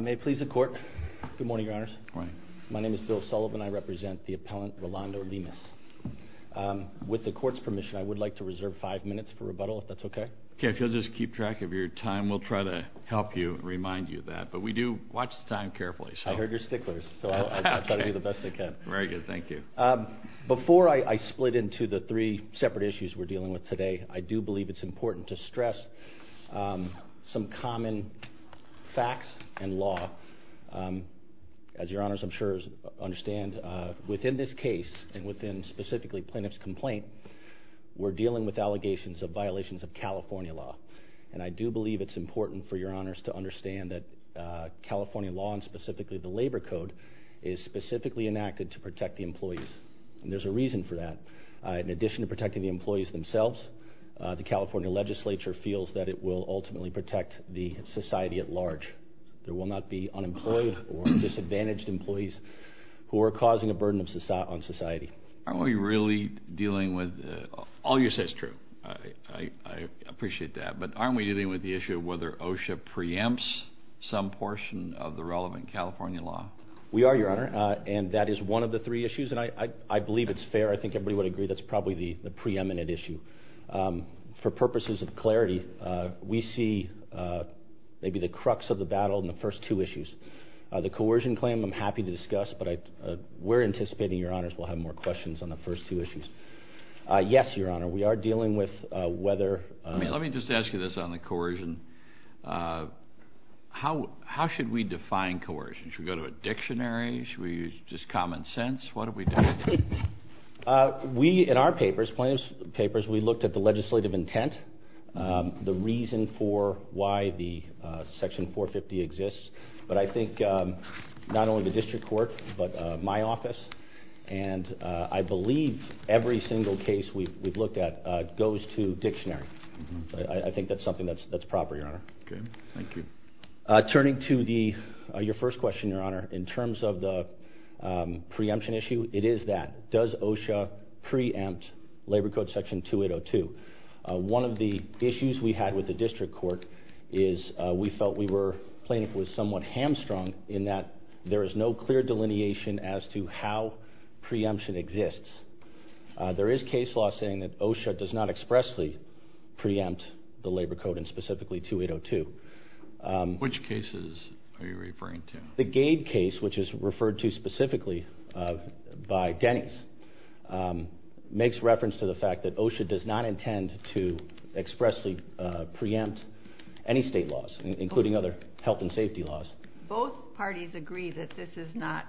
May it please the court. Good morning, your honors. My name is Bill Sullivan. I represent the appellant Rolando Lemus. With the court's permission, I would like to reserve five minutes for rebuttal, if that's okay. Okay, if you'll just keep track of your time, we'll try to help you and remind you of that. But we do watch the time carefully. I heard your sticklers, so I'll try to do the best I can. Very good. Thank you. Before I split into the three separate issues we're dealing with today, I do believe it's important to stress some common facts and law. As your honors I'm sure understand, within this case, and within specifically Plaintiff's complaint, we're dealing with allegations of violations of California law. And I do believe it's important for your honors to understand that California law, and specifically the labor code, is specifically enacted to protect the employees. And there's a reason for that. In addition to protecting the employees themselves, the California legislature feels that it will ultimately protect the society at large. There will not be unemployed or disadvantaged employees who are causing a burden on society. Aren't we really dealing with, all you say is true, I appreciate that, but aren't we dealing with the issue of whether OSHA preempts some portion of the relevant California law? We are, your honor, and that is one of the three issues. And I believe it's fair, I think everybody would agree, that's probably the preeminent issue. For purposes of clarity, we see maybe the crux of the battle in the first two issues. The coercion claim I'm happy to discuss, but we're anticipating, your honors, we'll have more questions on the first two issues. Yes, your honor, we are dealing with whether... Let me just ask you this on the coercion. How should we define coercion? Should we go to a dictionary? Should we use just common sense? What are we doing? We, in our papers, plaintiff's papers, we looked at the legislative intent, the reason for why the section 450 exists, but I think not only the district court, but my office, and I believe every single case we've looked at goes to dictionary. I think that's something that's proper, your honor. Okay, thank you. Turning to your first question, your honor, in terms of the preemption issue, it is that. Does OSHA preempt labor code section 2802? One of the issues we had with the district court is we felt we were, plaintiff was somewhat hamstrung in that there is no clear delineation as to how preemption exists. There is case law saying that OSHA does not expressly preempt the labor code, and specifically 2802. Which cases are you referring to? The Gade case, which is referred to specifically by Denny's, makes reference to the fact that OSHA does not intend to expressly preempt any state laws, including other health and safety laws. Both parties agree that this is not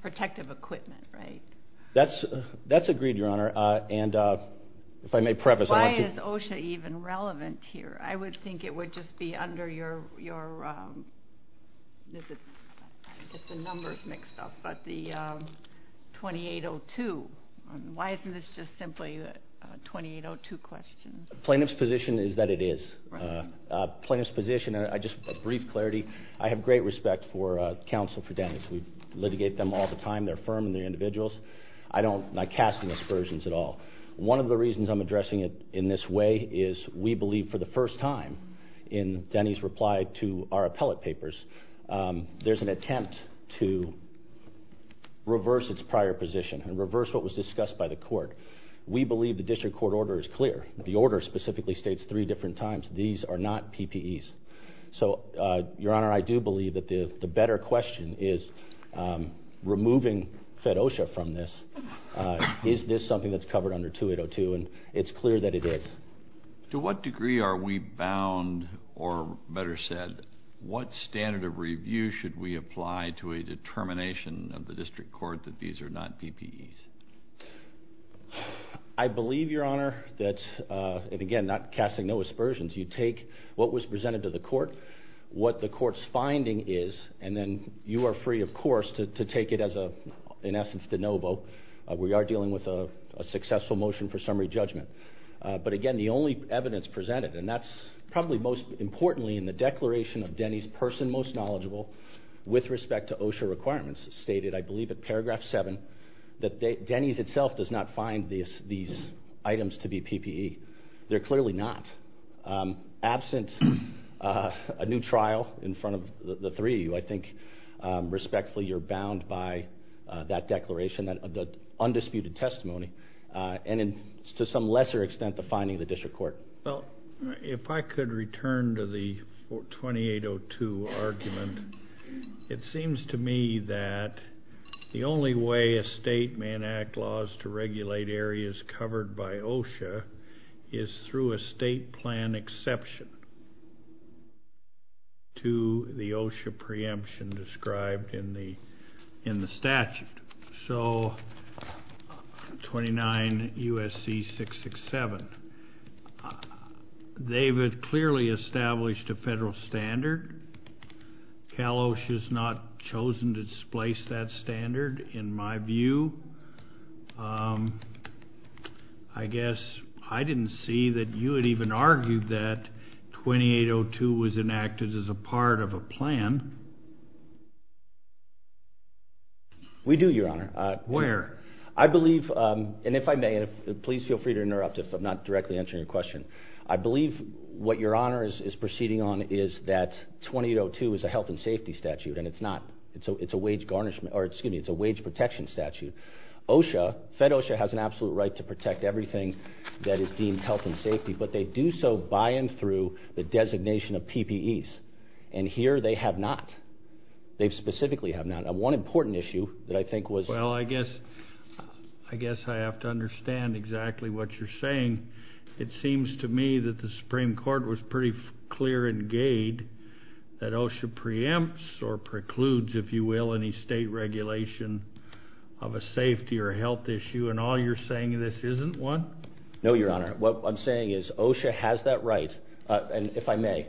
protective equipment, right? That's agreed, your honor, and if I may preface, I want to. I think it would just be under your numbers mixed up, but the 2802. Why isn't this just simply a 2802 question? Plaintiff's position is that it is. Plaintiff's position, and just a brief clarity, I have great respect for counsel for Denny's. We litigate them all the time, their firm and their individuals. I don't like casting aspersions at all. One of the reasons I'm addressing it in this way is we believe for the first time in Denny's reply to our appellate papers, there's an attempt to reverse its prior position and reverse what was discussed by the court. We believe the district court order is clear. The order specifically states three different times these are not PPEs. So, your honor, I do believe that the better question is, removing FEDOSHA from this, is this something that's covered under 2802, and it's clear that it is. To what degree are we bound, or better said, what standard of review should we apply to a determination of the district court that these are not PPEs? I believe, your honor, that, and again, not casting no aspersions, you take what was presented to the court, what the court's finding is, and then you are free, of course, to take it as, in essence, de novo. We are dealing with a successful motion for summary judgment. But again, the only evidence presented, and that's probably most importantly in the declaration of Denny's person most knowledgeable with respect to OSHA requirements, stated, I believe, at paragraph 7 that Denny's itself does not find these items to be PPE. They're clearly not. Absent a new trial in front of the three of you, I think, respectfully, you're bound by that declaration, that undisputed testimony, and to some lesser extent the finding of the district court. Well, if I could return to the 2802 argument, it seems to me that the only way a state may enact laws to regulate areas covered by OSHA is through a state plan exception to the OSHA preemption described in the statute. So 29 U.S.C. 667. They've clearly established a federal standard. Cal OSHA has not chosen to displace that standard, in my view. I guess I didn't see that you had even argued that 2802 was enacted as a part of a plan. We do, Your Honor. Where? I believe, and if I may, and please feel free to interrupt if I'm not directly answering your question, I believe what Your Honor is proceeding on is that 2802 is a health and safety statute, and it's not. It's a wage protection statute. OSHA, fed OSHA, has an absolute right to protect everything that is deemed health and safety, but they do so by and through the designation of PPEs, and here they have not. They specifically have not. One important issue that I think was- Well, I guess I have to understand exactly what you're saying. It seems to me that the Supreme Court was pretty clear in Gade that OSHA preempts or precludes, if you will, any state regulation of a safety or health issue, and all you're saying in this isn't one? No, Your Honor. What I'm saying is OSHA has that right, and if I may,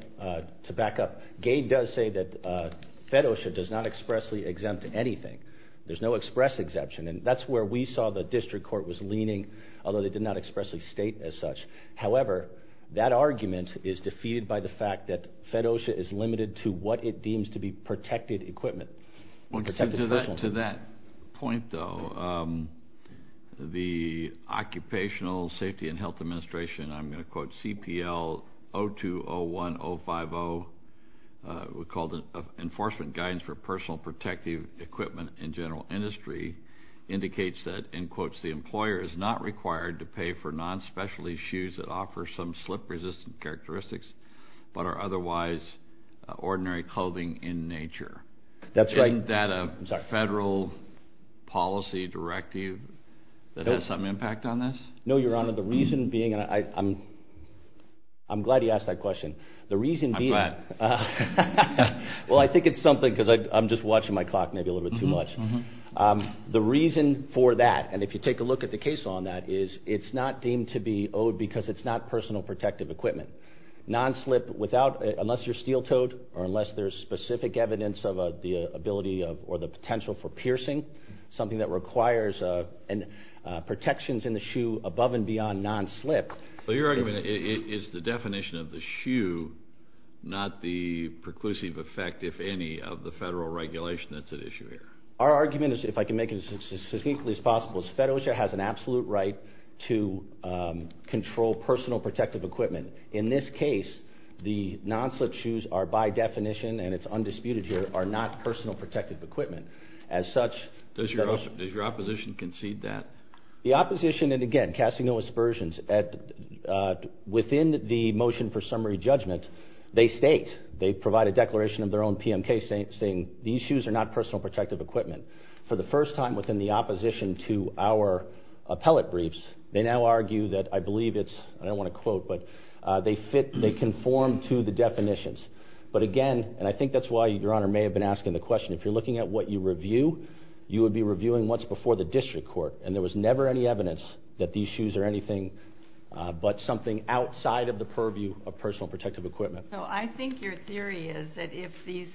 to back up, Gade does say that fed OSHA does not expressly exempt anything. There's no express exemption, and that's where we saw the district court was leaning, although they did not expressly state as such. However, that argument is defeated by the fact that fed OSHA is limited to what it deems to be protected equipment. To that point, though, the Occupational Safety and Health Administration, and I'm going to quote CPL 0201050, we called it Enforcement Guidance for Personal Protective Equipment in General Industry, indicates that, in quotes, the employer is not required to pay for non-specialty shoes that offer some slip-resistant characteristics but are otherwise ordinary clothing in nature. That's right. Isn't that a federal policy directive that has some impact on this? No, Your Honor. The reason being, and I'm glad you asked that question. I'm glad. Well, I think it's something because I'm just watching my clock maybe a little bit too much. The reason for that, and if you take a look at the case on that, is it's not deemed to be owed because it's not personal protective equipment. Non-slip, unless you're steel-toed or unless there's specific evidence of the ability or the potential for piercing, something that requires protections in the shoe above and beyond non-slip. Well, your argument is the definition of the shoe, not the preclusive effect, if any, of the federal regulation that's at issue here. Our argument is, if I can make it as succinctly as possible, is Federalist has an absolute right to control personal protective equipment. In this case, the non-slip shoes are by definition, and it's undisputed here, are not personal protective equipment. As such, does your opposition concede that? The opposition, and again, casting no aspersions, within the motion for summary judgment, they state, they provide a declaration of their own PMK saying, these shoes are not personal protective equipment. For the first time within the opposition to our appellate briefs, they now argue that I believe it's, I don't want to quote, but they fit, they conform to the definitions. But again, and I think that's why your Honor may have been asking the question, if you're looking at what you review, you would be reviewing what's before the district court. And there was never any evidence that these shoes are anything but something outside of the purview of personal protective equipment. So I think your theory is that if these,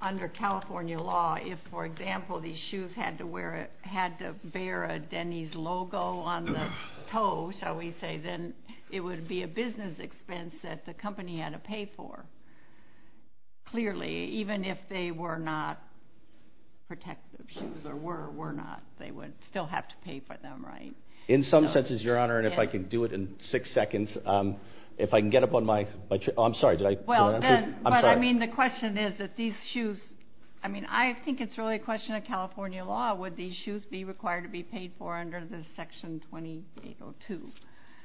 under California law, if, for example, these shoes had to wear, had to bear a Denny's logo on the toe, shall we say, then it would be a business expense that the company had to pay for. Clearly, even if they were not protective shoes, or were, were not, they would still have to pay for them, right? In some senses, your Honor, and if I can do it in six seconds, if I can get up on my, oh, I'm sorry, did I? Well, then, but I mean, the question is that these shoes, I mean, I think it's really a question of California law, would these shoes be required to be paid for under this section 2802?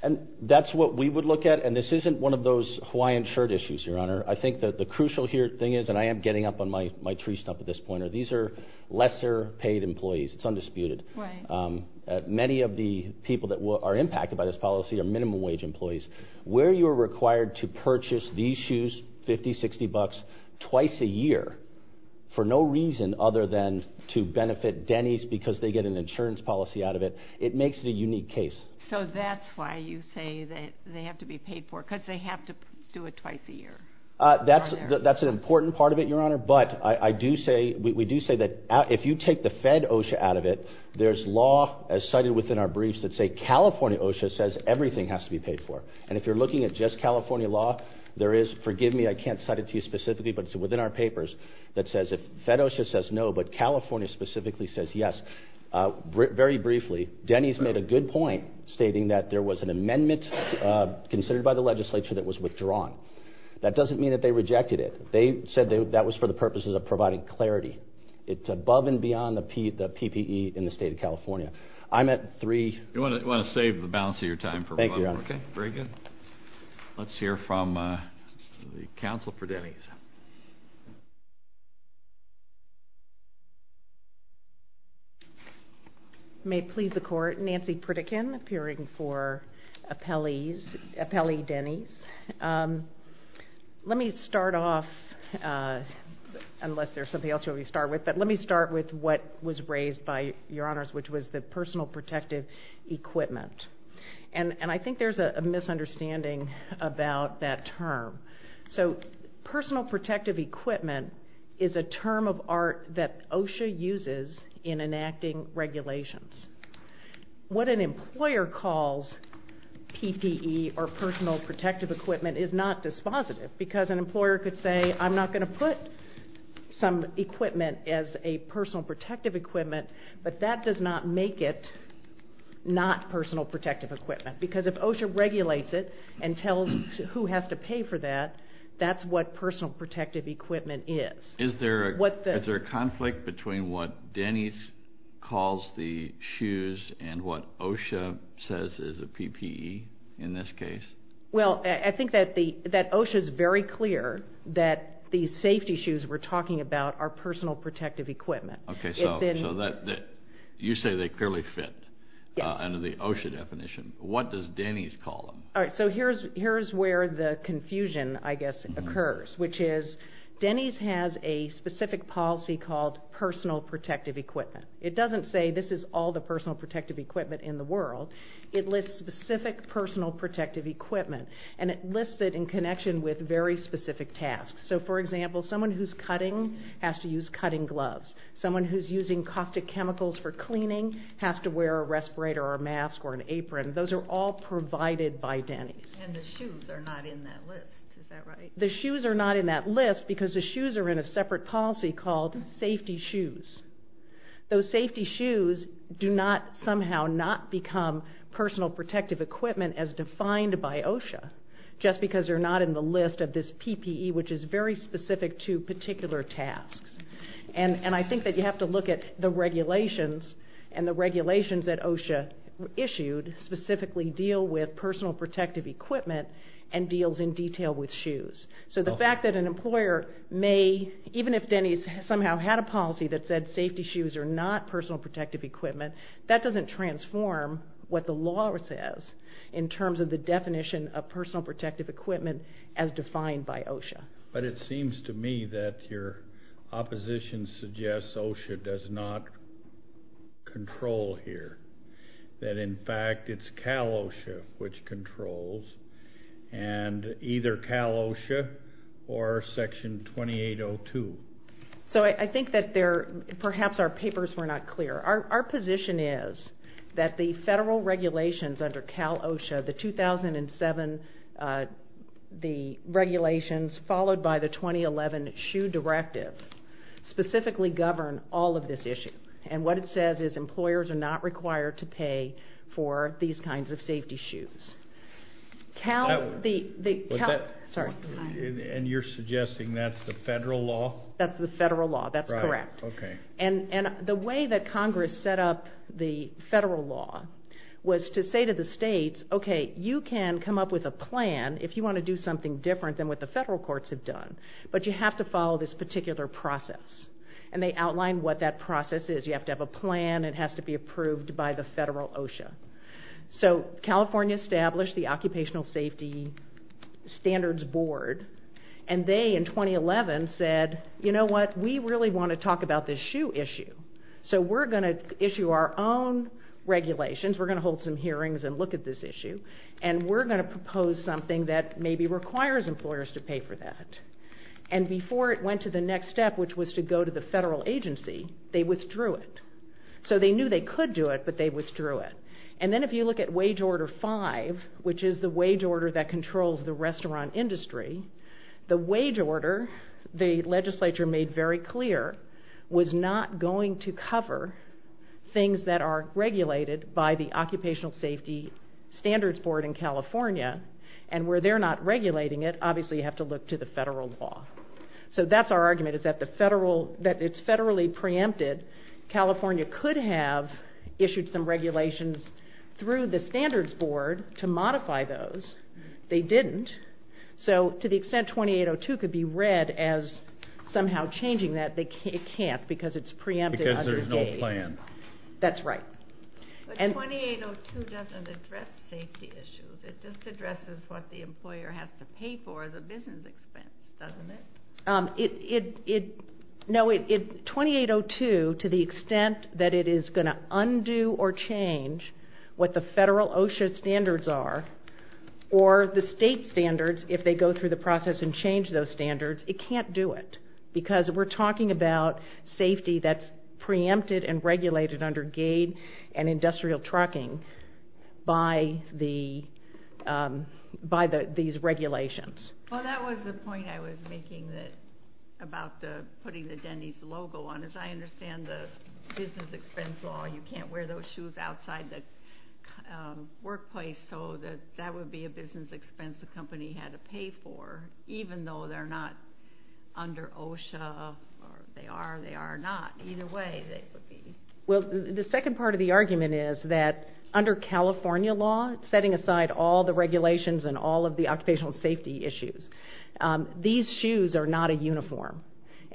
And that's what we would look at, and this isn't one of those Hawaiian shirt issues, your Honor. I think that the crucial thing is, and I am getting up on my tree stump at this point, are these are lesser paid employees. It's undisputed. Right. Many of the people that are impacted by this policy are minimum wage employees. Where you are required to purchase these shoes, 50, 60 bucks, twice a year, for no reason other than to benefit Denny's because they get an insurance policy out of it, it makes it a unique case. So that's why you say that they have to be paid for, because they have to do it twice a year. That's an important part of it, your Honor, but I do say, we do say that if you take the Fed OSHA out of it, there's law as cited within our briefs that say California OSHA says everything has to be paid for. And if you're looking at just California law, there is, forgive me, I can't cite it to you specifically, but it's within our papers, that says if Fed OSHA says no, but California specifically says yes. Very briefly, Denny's made a good point stating that there was an amendment considered by the legislature that was withdrawn. That doesn't mean that they rejected it. They said that was for the purposes of providing clarity. It's above and beyond the PPE in the state of California. I'm at three. You want to save the balance of your time for one more? Thank you, Your Honor. Okay, very good. Let's hear from the counsel for Denny's. May it please the Court, Nancy Pritikin, appearing for Appellee Denny's. Let me start off, unless there's something else you want me to start with, but let me start with what was raised by your Honors, which was the personal protective equipment. And I think there's a misunderstanding about that term. So personal protective equipment is a term of art that OSHA uses in enacting regulations. What an employer calls PPE, or personal protective equipment, is not dispositive, because an employer could say, I'm not going to put some equipment as a personal protective equipment, but that does not make it not personal protective equipment. Because if OSHA regulates it and tells who has to pay for that, that's what personal protective equipment is. Is there a conflict between what Denny's calls the shoes and what OSHA says is a PPE in this case? Well, I think that OSHA is very clear that the safety shoes we're talking about are personal protective equipment. Okay, so you say they clearly fit under the OSHA definition. What does Denny's call them? All right, so here's where the confusion, I guess, occurs, which is Denny's has a specific policy called personal protective equipment. It doesn't say this is all the personal protective equipment in the world. It lists specific personal protective equipment, and it lists it in connection with very specific tasks. So, for example, someone who's cutting has to use cutting gloves. Someone who's using caustic chemicals for cleaning has to wear a respirator or a mask or an apron. Those are all provided by Denny's. And the shoes are not in that list, is that right? The shoes are not in that list because the shoes are in a separate policy called safety shoes. Those safety shoes do not somehow not become personal protective equipment as defined by OSHA, just because they're not in the list of this PPE, which is very specific to particular tasks. And I think that you have to look at the regulations, and the regulations that OSHA issued specifically deal with personal protective equipment and deals in detail with shoes. So the fact that an employer may, even if Denny's somehow had a policy that said safety shoes are not personal protective equipment, that doesn't transform what the law says in terms of the definition of personal protective equipment as defined by OSHA. But it seems to me that your opposition suggests OSHA does not control here, that, in fact, it's CalOSHA which controls, and either CalOSHA or Section 2802. So I think that perhaps our papers were not clear. Our position is that the federal regulations under CalOSHA, the 2007 regulations followed by the 2011 SHU directive, specifically govern all of this issue. And what it says is employers are not required to pay for these kinds of safety shoes. Cal, the Cal, sorry. And you're suggesting that's the federal law? That's the federal law. That's correct. Right. So the way Congress set up the federal law was to say to the states, okay, you can come up with a plan if you want to do something different than what the federal courts have done, but you have to follow this particular process. And they outlined what that process is. You have to have a plan. It has to be approved by the federal OSHA. So California established the Occupational Safety Standards Board, and they, in 2011, said, you know what, we really want to talk about this SHU issue. So we're going to issue our own regulations. We're going to hold some hearings and look at this issue. And we're going to propose something that maybe requires employers to pay for that. And before it went to the next step, which was to go to the federal agency, they withdrew it. So they knew they could do it, but they withdrew it. And then if you look at Wage Order 5, which is the wage order that controls the restaurant industry, the wage order, the legislature made very clear, was not going to cover things that are regulated by the Occupational Safety Standards Board in California. And where they're not regulating it, obviously you have to look to the federal law. So that's our argument, is that it's federally preempted. California could have issued some regulations through the Standards Board to modify those. They didn't. So to the extent 2802 could be read as somehow changing that, it can't because it's preempted. Because there's no plan. That's right. But 2802 doesn't address safety issues. It just addresses what the employer has to pay for as a business expense, doesn't it? No, 2802, to the extent that it is going to undo or change what the federal OSHA standards are, or the state standards, if they go through the process and change those standards, it can't do it. Because we're talking about safety that's preempted and regulated under GAID and industrial trucking by these regulations. Well, that was the point I was making about putting the Denny's logo on. As I understand the business expense law, you can't wear those shoes outside the workplace. So that would be a business expense the company had to pay for, even though they're not under OSHA or they are or they are not. Either way, they would be. Well, the second part of the argument is that under California law, setting aside all the regulations and all of the occupational safety issues, these shoes are not a uniform.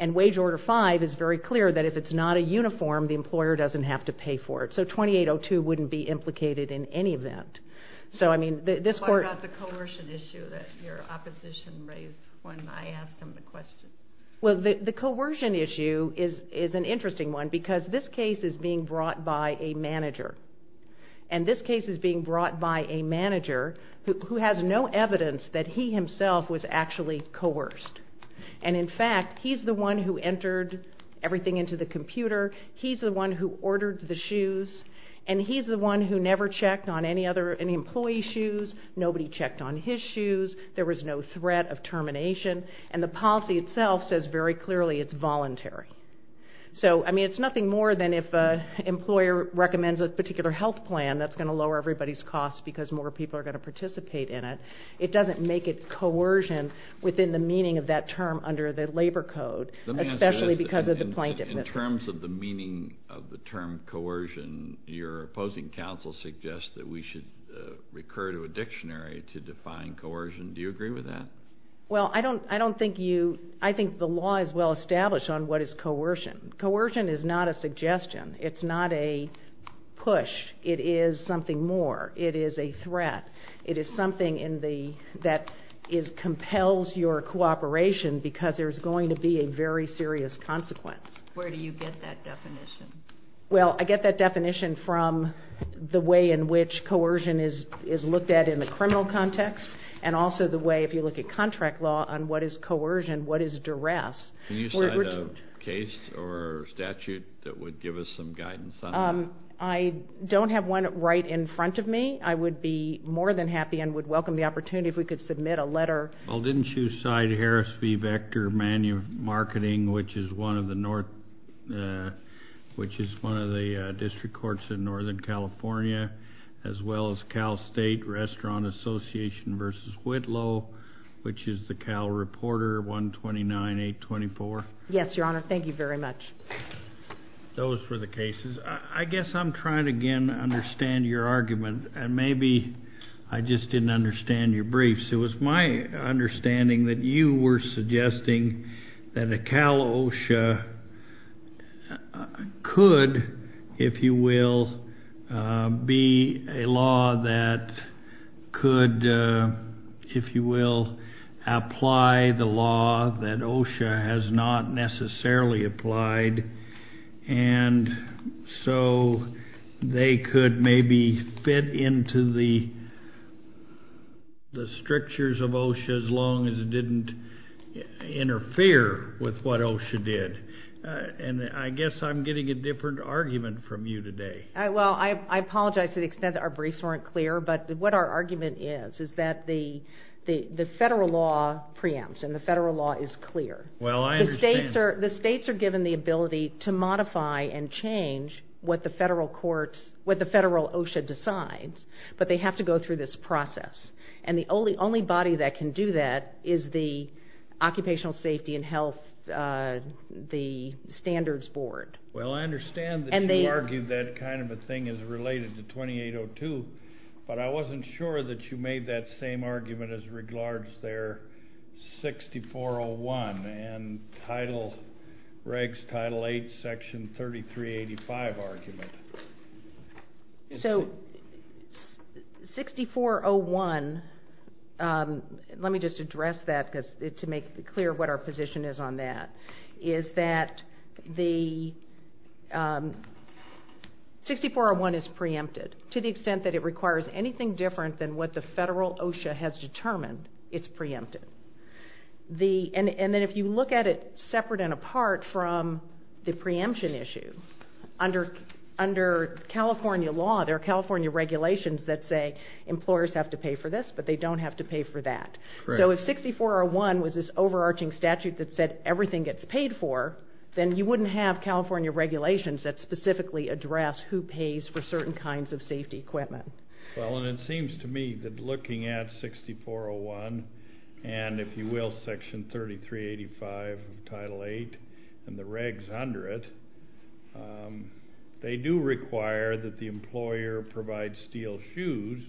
And Wage Order 5 is very clear that if it's not a uniform, the employer doesn't have to pay for it. So 2802 wouldn't be implicated in any event. So, I mean, this court... What about the coercion issue that your opposition raised when I asked him the question? Well, the coercion issue is an interesting one because this case is being brought by a manager. And this case is being brought by a manager who has no evidence that he himself was actually coerced. And, in fact, he's the one who entered everything into the computer. He's the one who ordered the shoes. And he's the one who never checked on any other employee's shoes. Nobody checked on his shoes. There was no threat of termination. And the policy itself says very clearly it's voluntary. So, I mean, it's nothing more than if an employer recommends a particular health plan that's going to lower everybody's costs because more people are going to participate in it. It doesn't make it coercion within the meaning of that term under the labor code, especially because of the plaintiff. In terms of the meaning of the term coercion, your opposing counsel suggests that we should recur to a dictionary to define coercion. Do you agree with that? Well, I don't think you... I think the law is well established on what is coercion. Coercion is not a suggestion. It's not a push. It is something more. It is a threat. It is something that compels your cooperation because there's going to be a very serious consequence. Where do you get that definition? Well, I get that definition from the way in which coercion is looked at in the criminal context and also the way, if you look at contract law, on what is coercion, what is duress. Can you cite a case or statute that would give us some guidance on that? I don't have one right in front of me. I would be more than happy and would welcome the opportunity if we could submit a letter. Well, didn't you cite Harris v. Vector Manual of Marketing, which is one of the district courts in Northern California, as well as Cal State Restaurant Association v. Whitlow, which is the Cal Reporter 129824? Yes, Your Honor. Thank you very much. Those were the cases. I guess I'm trying again to understand your argument, and maybe I just didn't understand your briefs. It was my understanding that you were suggesting that a Cal OSHA could, if you will, be a law that could, if you will, apply the law that OSHA has not necessarily applied. And so they could maybe fit into the strictures of OSHA as long as it didn't interfere with what OSHA did. And I guess I'm getting a different argument from you today. Well, I apologize to the extent that our briefs weren't clear, but what our argument is is that the federal law preempts and the federal law is clear. Well, I understand. The states are given the ability to modify and change what the federal OSHA decides, but they have to go through this process. And the only body that can do that is the Occupational Safety and Health Standards Board. Well, I understand that you argued that kind of a thing is related to 2802, but I wasn't sure that you made that same argument as regards their 6401 and title regs, title 8, section 3385 argument. So 6401, let me just address that to make clear what our position is on that, is that the 6401 is preempted to the extent that it requires anything different than what the federal OSHA has determined, it's preempted. And then if you look at it separate and apart from the preemption issue, under California law there are California regulations that say employers have to pay for this, but they don't have to pay for that. So if 6401 was this overarching statute that said everything gets paid for, then you wouldn't have California regulations that specifically address who pays for certain kinds of safety equipment. Well, and it seems to me that looking at 6401 and, if you will, section 3385 of title 8 and the regs under it, they do require that the employer provide steel shoes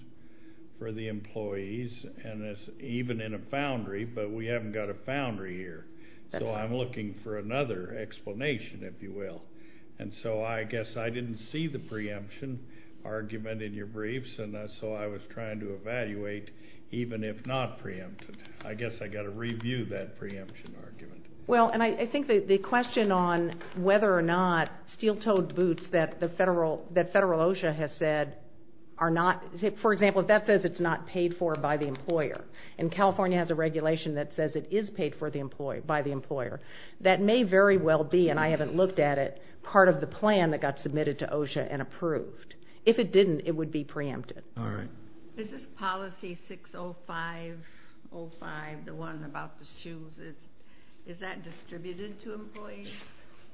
for the employees and even in a foundry, but we haven't got a foundry here. So I'm looking for another explanation, if you will. And so I guess I didn't see the preemption argument in your briefs, and so I was trying to evaluate even if not preempted. I guess I've got to review that preemption argument. Well, and I think the question on whether or not steel-toed boots that the federal OSHA has said are not, for example, if that says it's not paid for by the employer, and California has a regulation that says it is paid for by the employer, that may very well be, and I haven't looked at it, part of the plan that got submitted to OSHA and approved. If it didn't, it would be preempted. All right. Is this policy 60505, the one about the shoes, is that distributed to employees?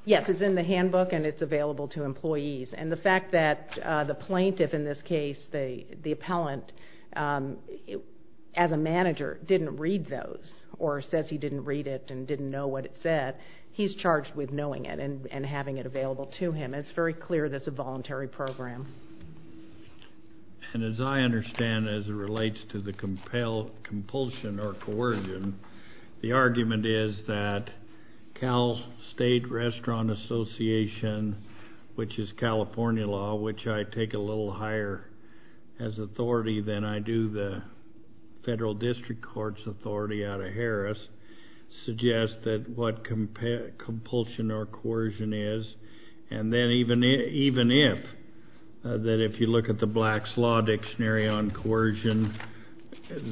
Yes, it's in the handbook and it's available to employees. And the fact that the plaintiff in this case, the appellant, as a manager, didn't read those or says he didn't read it and didn't know what it said, he's charged with knowing it and having it available to him. It's very clear that it's a voluntary program. And as I understand, as it relates to the compulsion or coercion, the argument is that Cal State Restaurant Association, which is California law, which I take a little higher as authority than I do the federal district court's authority out of Harris, suggests that what compulsion or coercion is, and then even if, that if you look at the Black's Law Dictionary on coercion,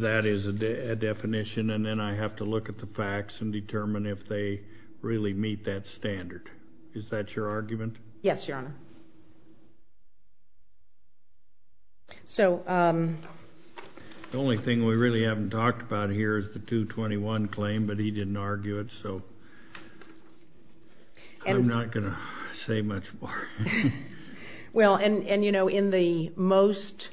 that is a definition. And then I have to look at the facts and determine if they really meet that standard. Is that your argument? Yes, Your Honor. The only thing we really haven't talked about here is the 221 claim, but he didn't argue it. So I'm not going to say much more. Well, and you know, in the most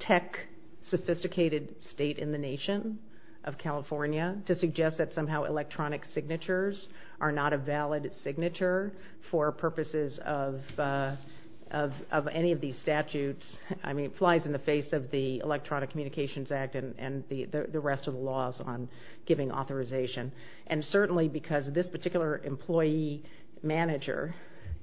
tech-sophisticated state in the nation of California, to suggest that somehow electronic signatures are not a valid signature for purposes of any of these statutes, I mean, it flies in the face of the Electronic Communications Act and the rest of the laws on giving authorization. And certainly because this particular employee manager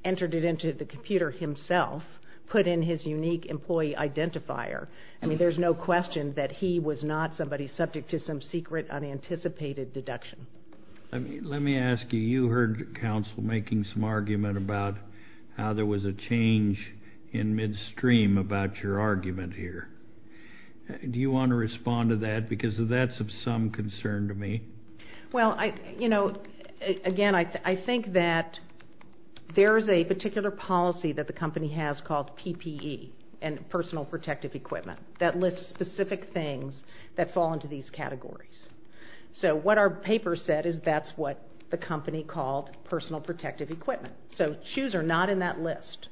entered it into the computer himself, put in his unique employee identifier, I mean, there's no question that he was not somebody subject to some secret unanticipated deduction. Let me ask you, you heard counsel making some argument about how there was a change in midstream about your argument here. Do you want to respond to that? Because that's of some concern to me. Well, you know, again, I think that there is a particular policy that the company has called PPE, and personal protective equipment, that lists specific things that fall into these categories. So what our paper said is that's what the company called personal protective equipment. So shoes are not in that list.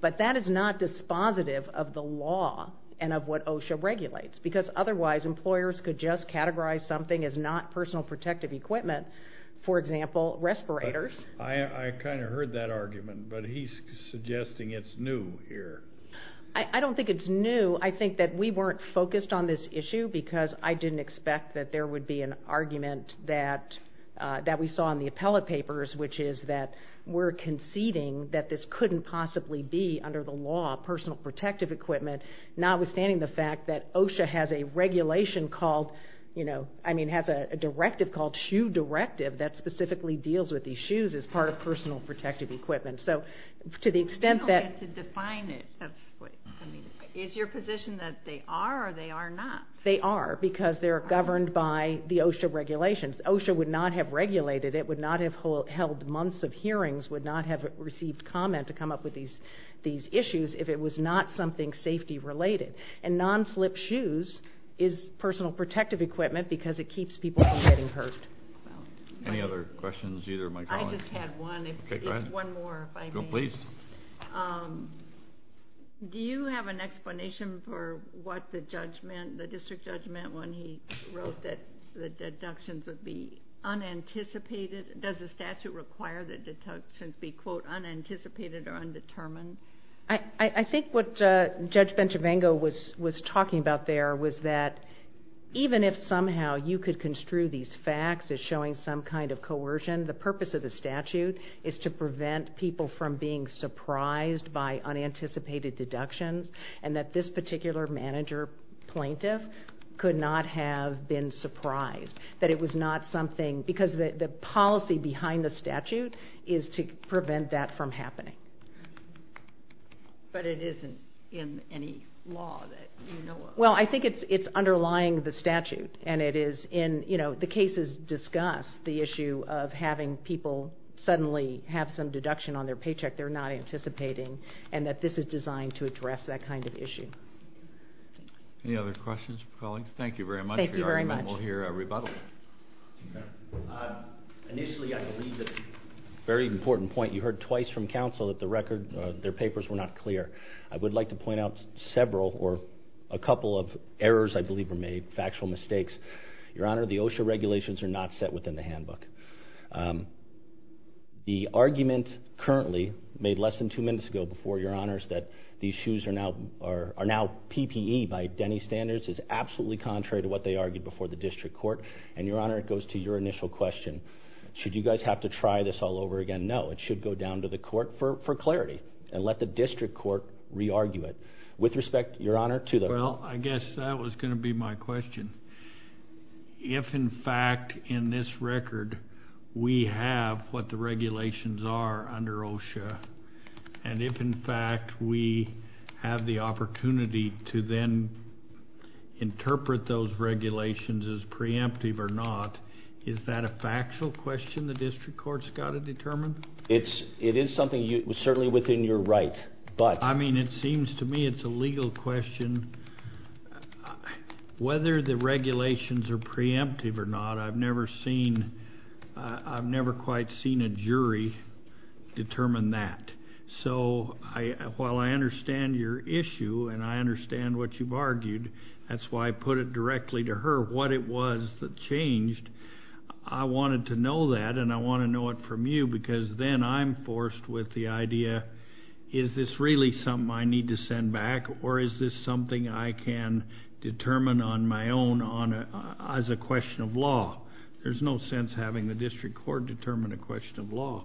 But that is not dispositive of the law and of what OSHA regulates, because otherwise employers could just categorize something as not personal protective equipment, for example, respirators. I kind of heard that argument, but he's suggesting it's new here. I don't think it's new. I think that we weren't focused on this issue because I didn't expect that there would be an argument that we saw in the appellate papers, which is that we're conceding that this couldn't possibly be, under the law, personal protective equipment, notwithstanding the fact that OSHA has a regulation called, you know, I mean, has a directive called shoe directive that specifically deals with these shoes as part of personal protective equipment. So to the extent that... You don't need to define it. Is your position that they are or they are not? They are, because they're governed by the OSHA regulations. OSHA would not have regulated it, would not have held months of hearings, would not have received comment to come up with these issues if it was not something safety-related. And non-slip shoes is personal protective equipment because it keeps people from getting hurt. Any other questions, either of my colleagues? I just had one. Okay, go ahead. One more, if I may. Please. Do you have an explanation for what the judgment, the district judgment, when he wrote that the deductions would be unanticipated? Does the statute require that deductions be, quote, unanticipated or undetermined? I think what Judge Benchavango was talking about there was that even if somehow you could construe these facts as showing some kind of coercion, the purpose of the statute is to prevent people from being surprised by unanticipated deductions and that this particular manager plaintiff could not have been surprised, that it was not something, because the policy behind the statute is to prevent that from happening. But it isn't in any law that you know of. Well, I think it's underlying the statute, and it is in, you know, the cases discuss the issue of having people suddenly have some deduction on their paycheck they're not anticipating and that this is designed to address that kind of issue. Any other questions, colleagues? Thank you very much. We'll hear a rebuttal. Initially, I believe a very important point. You heard twice from counsel that the record, their papers were not clear. I would like to point out several or a couple of errors I believe were made, factual mistakes. Your Honor, the OSHA regulations are not set within the handbook. The argument currently made less than two minutes ago before, Your Honors, that these shoes are now PPE by Denny standards is absolutely contrary to what they argued before the district court. And, Your Honor, it goes to your initial question. Should you guys have to try this all over again? No. It should go down to the court for clarity and let the district court re-argue it. With respect, Your Honor, to the- Well, I guess that was going to be my question. If, in fact, in this record we have what the regulations are under OSHA, and if, in fact, we have the opportunity to then interpret those regulations as preemptive or not, is that a factual question the district court's got to determine? It is something certainly within your right, but- I mean, it seems to me it's a legal question. Whether the regulations are preemptive or not, I've never seen, I've never quite seen a jury determine that. So while I understand your issue and I understand what you've argued, that's why I put it directly to her what it was that changed. I wanted to know that and I want to know it from you because then I'm forced with the idea, is this really something I need to send back or is this something I can determine on my own as a question of law? There's no sense having the district court determine a question of law.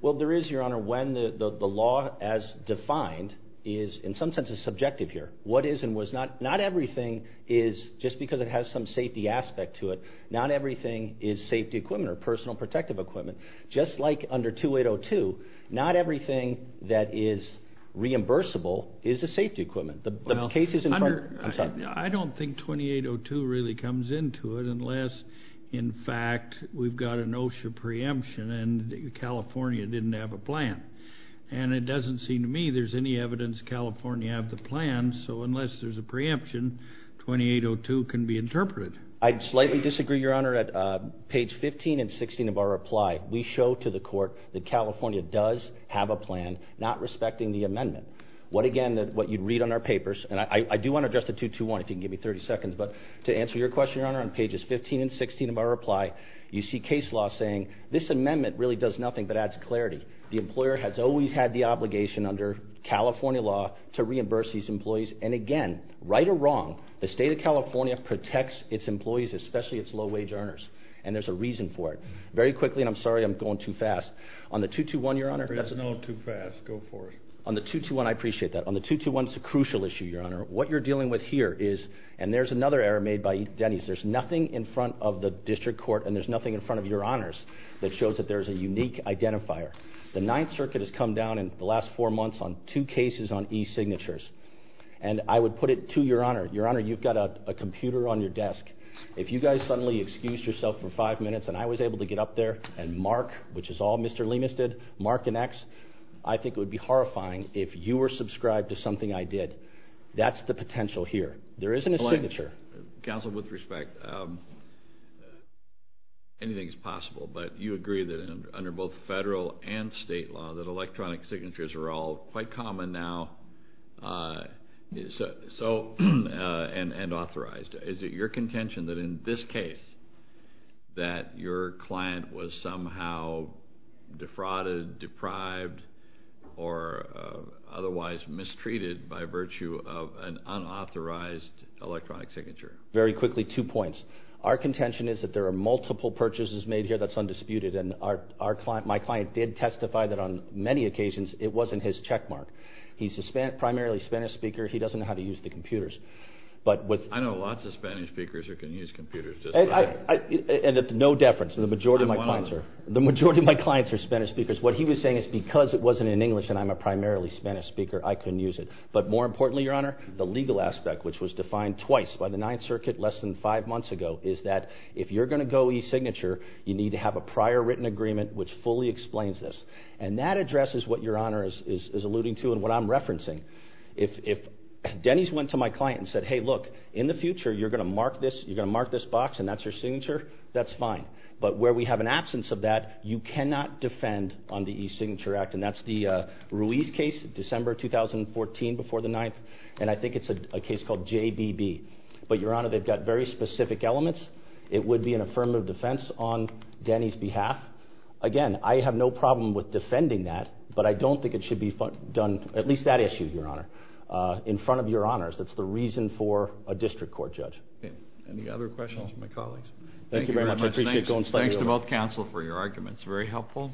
Well, there is, Your Honor, when the law as defined is in some sense subjective here. What is and was not, not everything is, just because it has some safety aspect to it, not everything is safety equipment or personal protective equipment. Just like under 2802, not everything that is reimbursable is a safety equipment. The cases in front of- Well, Hunter, I don't think 2802 really comes into it unless, in fact, we've got an OSHA preemption and California didn't have a plan. And it doesn't seem to me there's any evidence California had the plan, so unless there's a preemption, 2802 can be interpreted. I'd slightly disagree, Your Honor, at page 15 and 16 of our reply. We show to the court that California does have a plan, not respecting the amendment. What, again, what you'd read on our papers, and I do want to address the 221 if you can give me 30 seconds, but to answer your question, Your Honor, on pages 15 and 16 of our reply, you see case law saying this amendment really does nothing but adds clarity. The employer has always had the obligation under California law to reimburse these employees. And, again, right or wrong, the state of California protects its employees, especially its low-wage earners, and there's a reason for it. Very quickly, and I'm sorry I'm going too fast, on the 221, Your Honor- There is no too fast. Go for it. On the 221, I appreciate that. On the 221, it's a crucial issue, Your Honor. What you're dealing with here is, and there's another error made by Denny's, there's nothing in front of the district court and there's nothing in front of Your Honors that shows that there's a unique identifier. The Ninth Circuit has come down in the last four months on two cases on e-signatures. And I would put it to Your Honor, Your Honor, you've got a computer on your desk. If you guys suddenly excused yourself for five minutes and I was able to get up there and mark, which is all Mr. Lemus did, mark an X, I think it would be horrifying if you were subscribed to something I did. That's the potential here. There isn't a signature. Counsel, with respect, anything is possible, but you agree that under both federal and state law that electronic signatures are all quite common now and authorized. Is it your contention that in this case that your client was somehow defrauded, deprived, or otherwise mistreated by virtue of an unauthorized electronic signature? Very quickly, two points. Our contention is that there are multiple purchases made here that's undisputed. And my client did testify that on many occasions it wasn't his checkmark. He's a primarily Spanish speaker. He doesn't know how to use the computers. I know lots of Spanish speakers who can use computers. And no deference. The majority of my clients are Spanish speakers. What he was saying is because it wasn't in English and I'm a primarily Spanish speaker, I couldn't use it. But more importantly, Your Honor, the legal aspect, which was defined twice by the Ninth Circuit less than five months ago, is that if you're going to go e-signature, you need to have a prior written agreement which fully explains this. And that addresses what Your Honor is alluding to and what I'm referencing. If Denny's went to my client and said, hey, look, in the future you're going to mark this box and that's your signature, that's fine. But where we have an absence of that, you cannot defend on the e-signature act. And that's the Ruiz case, December 2014, before the 9th. And I think it's a case called JBB. But, Your Honor, they've got very specific elements. It would be an affirmative defense on Denny's behalf. Again, I have no problem with defending that, but I don't think it should be done, at least that issue, Your Honor, in front of Your Honors. That's the reason for a district court judge. Any other questions from my colleagues? Thank you very much. I appreciate going slightly over. Thanks to both counsel for your arguments. Very helpful.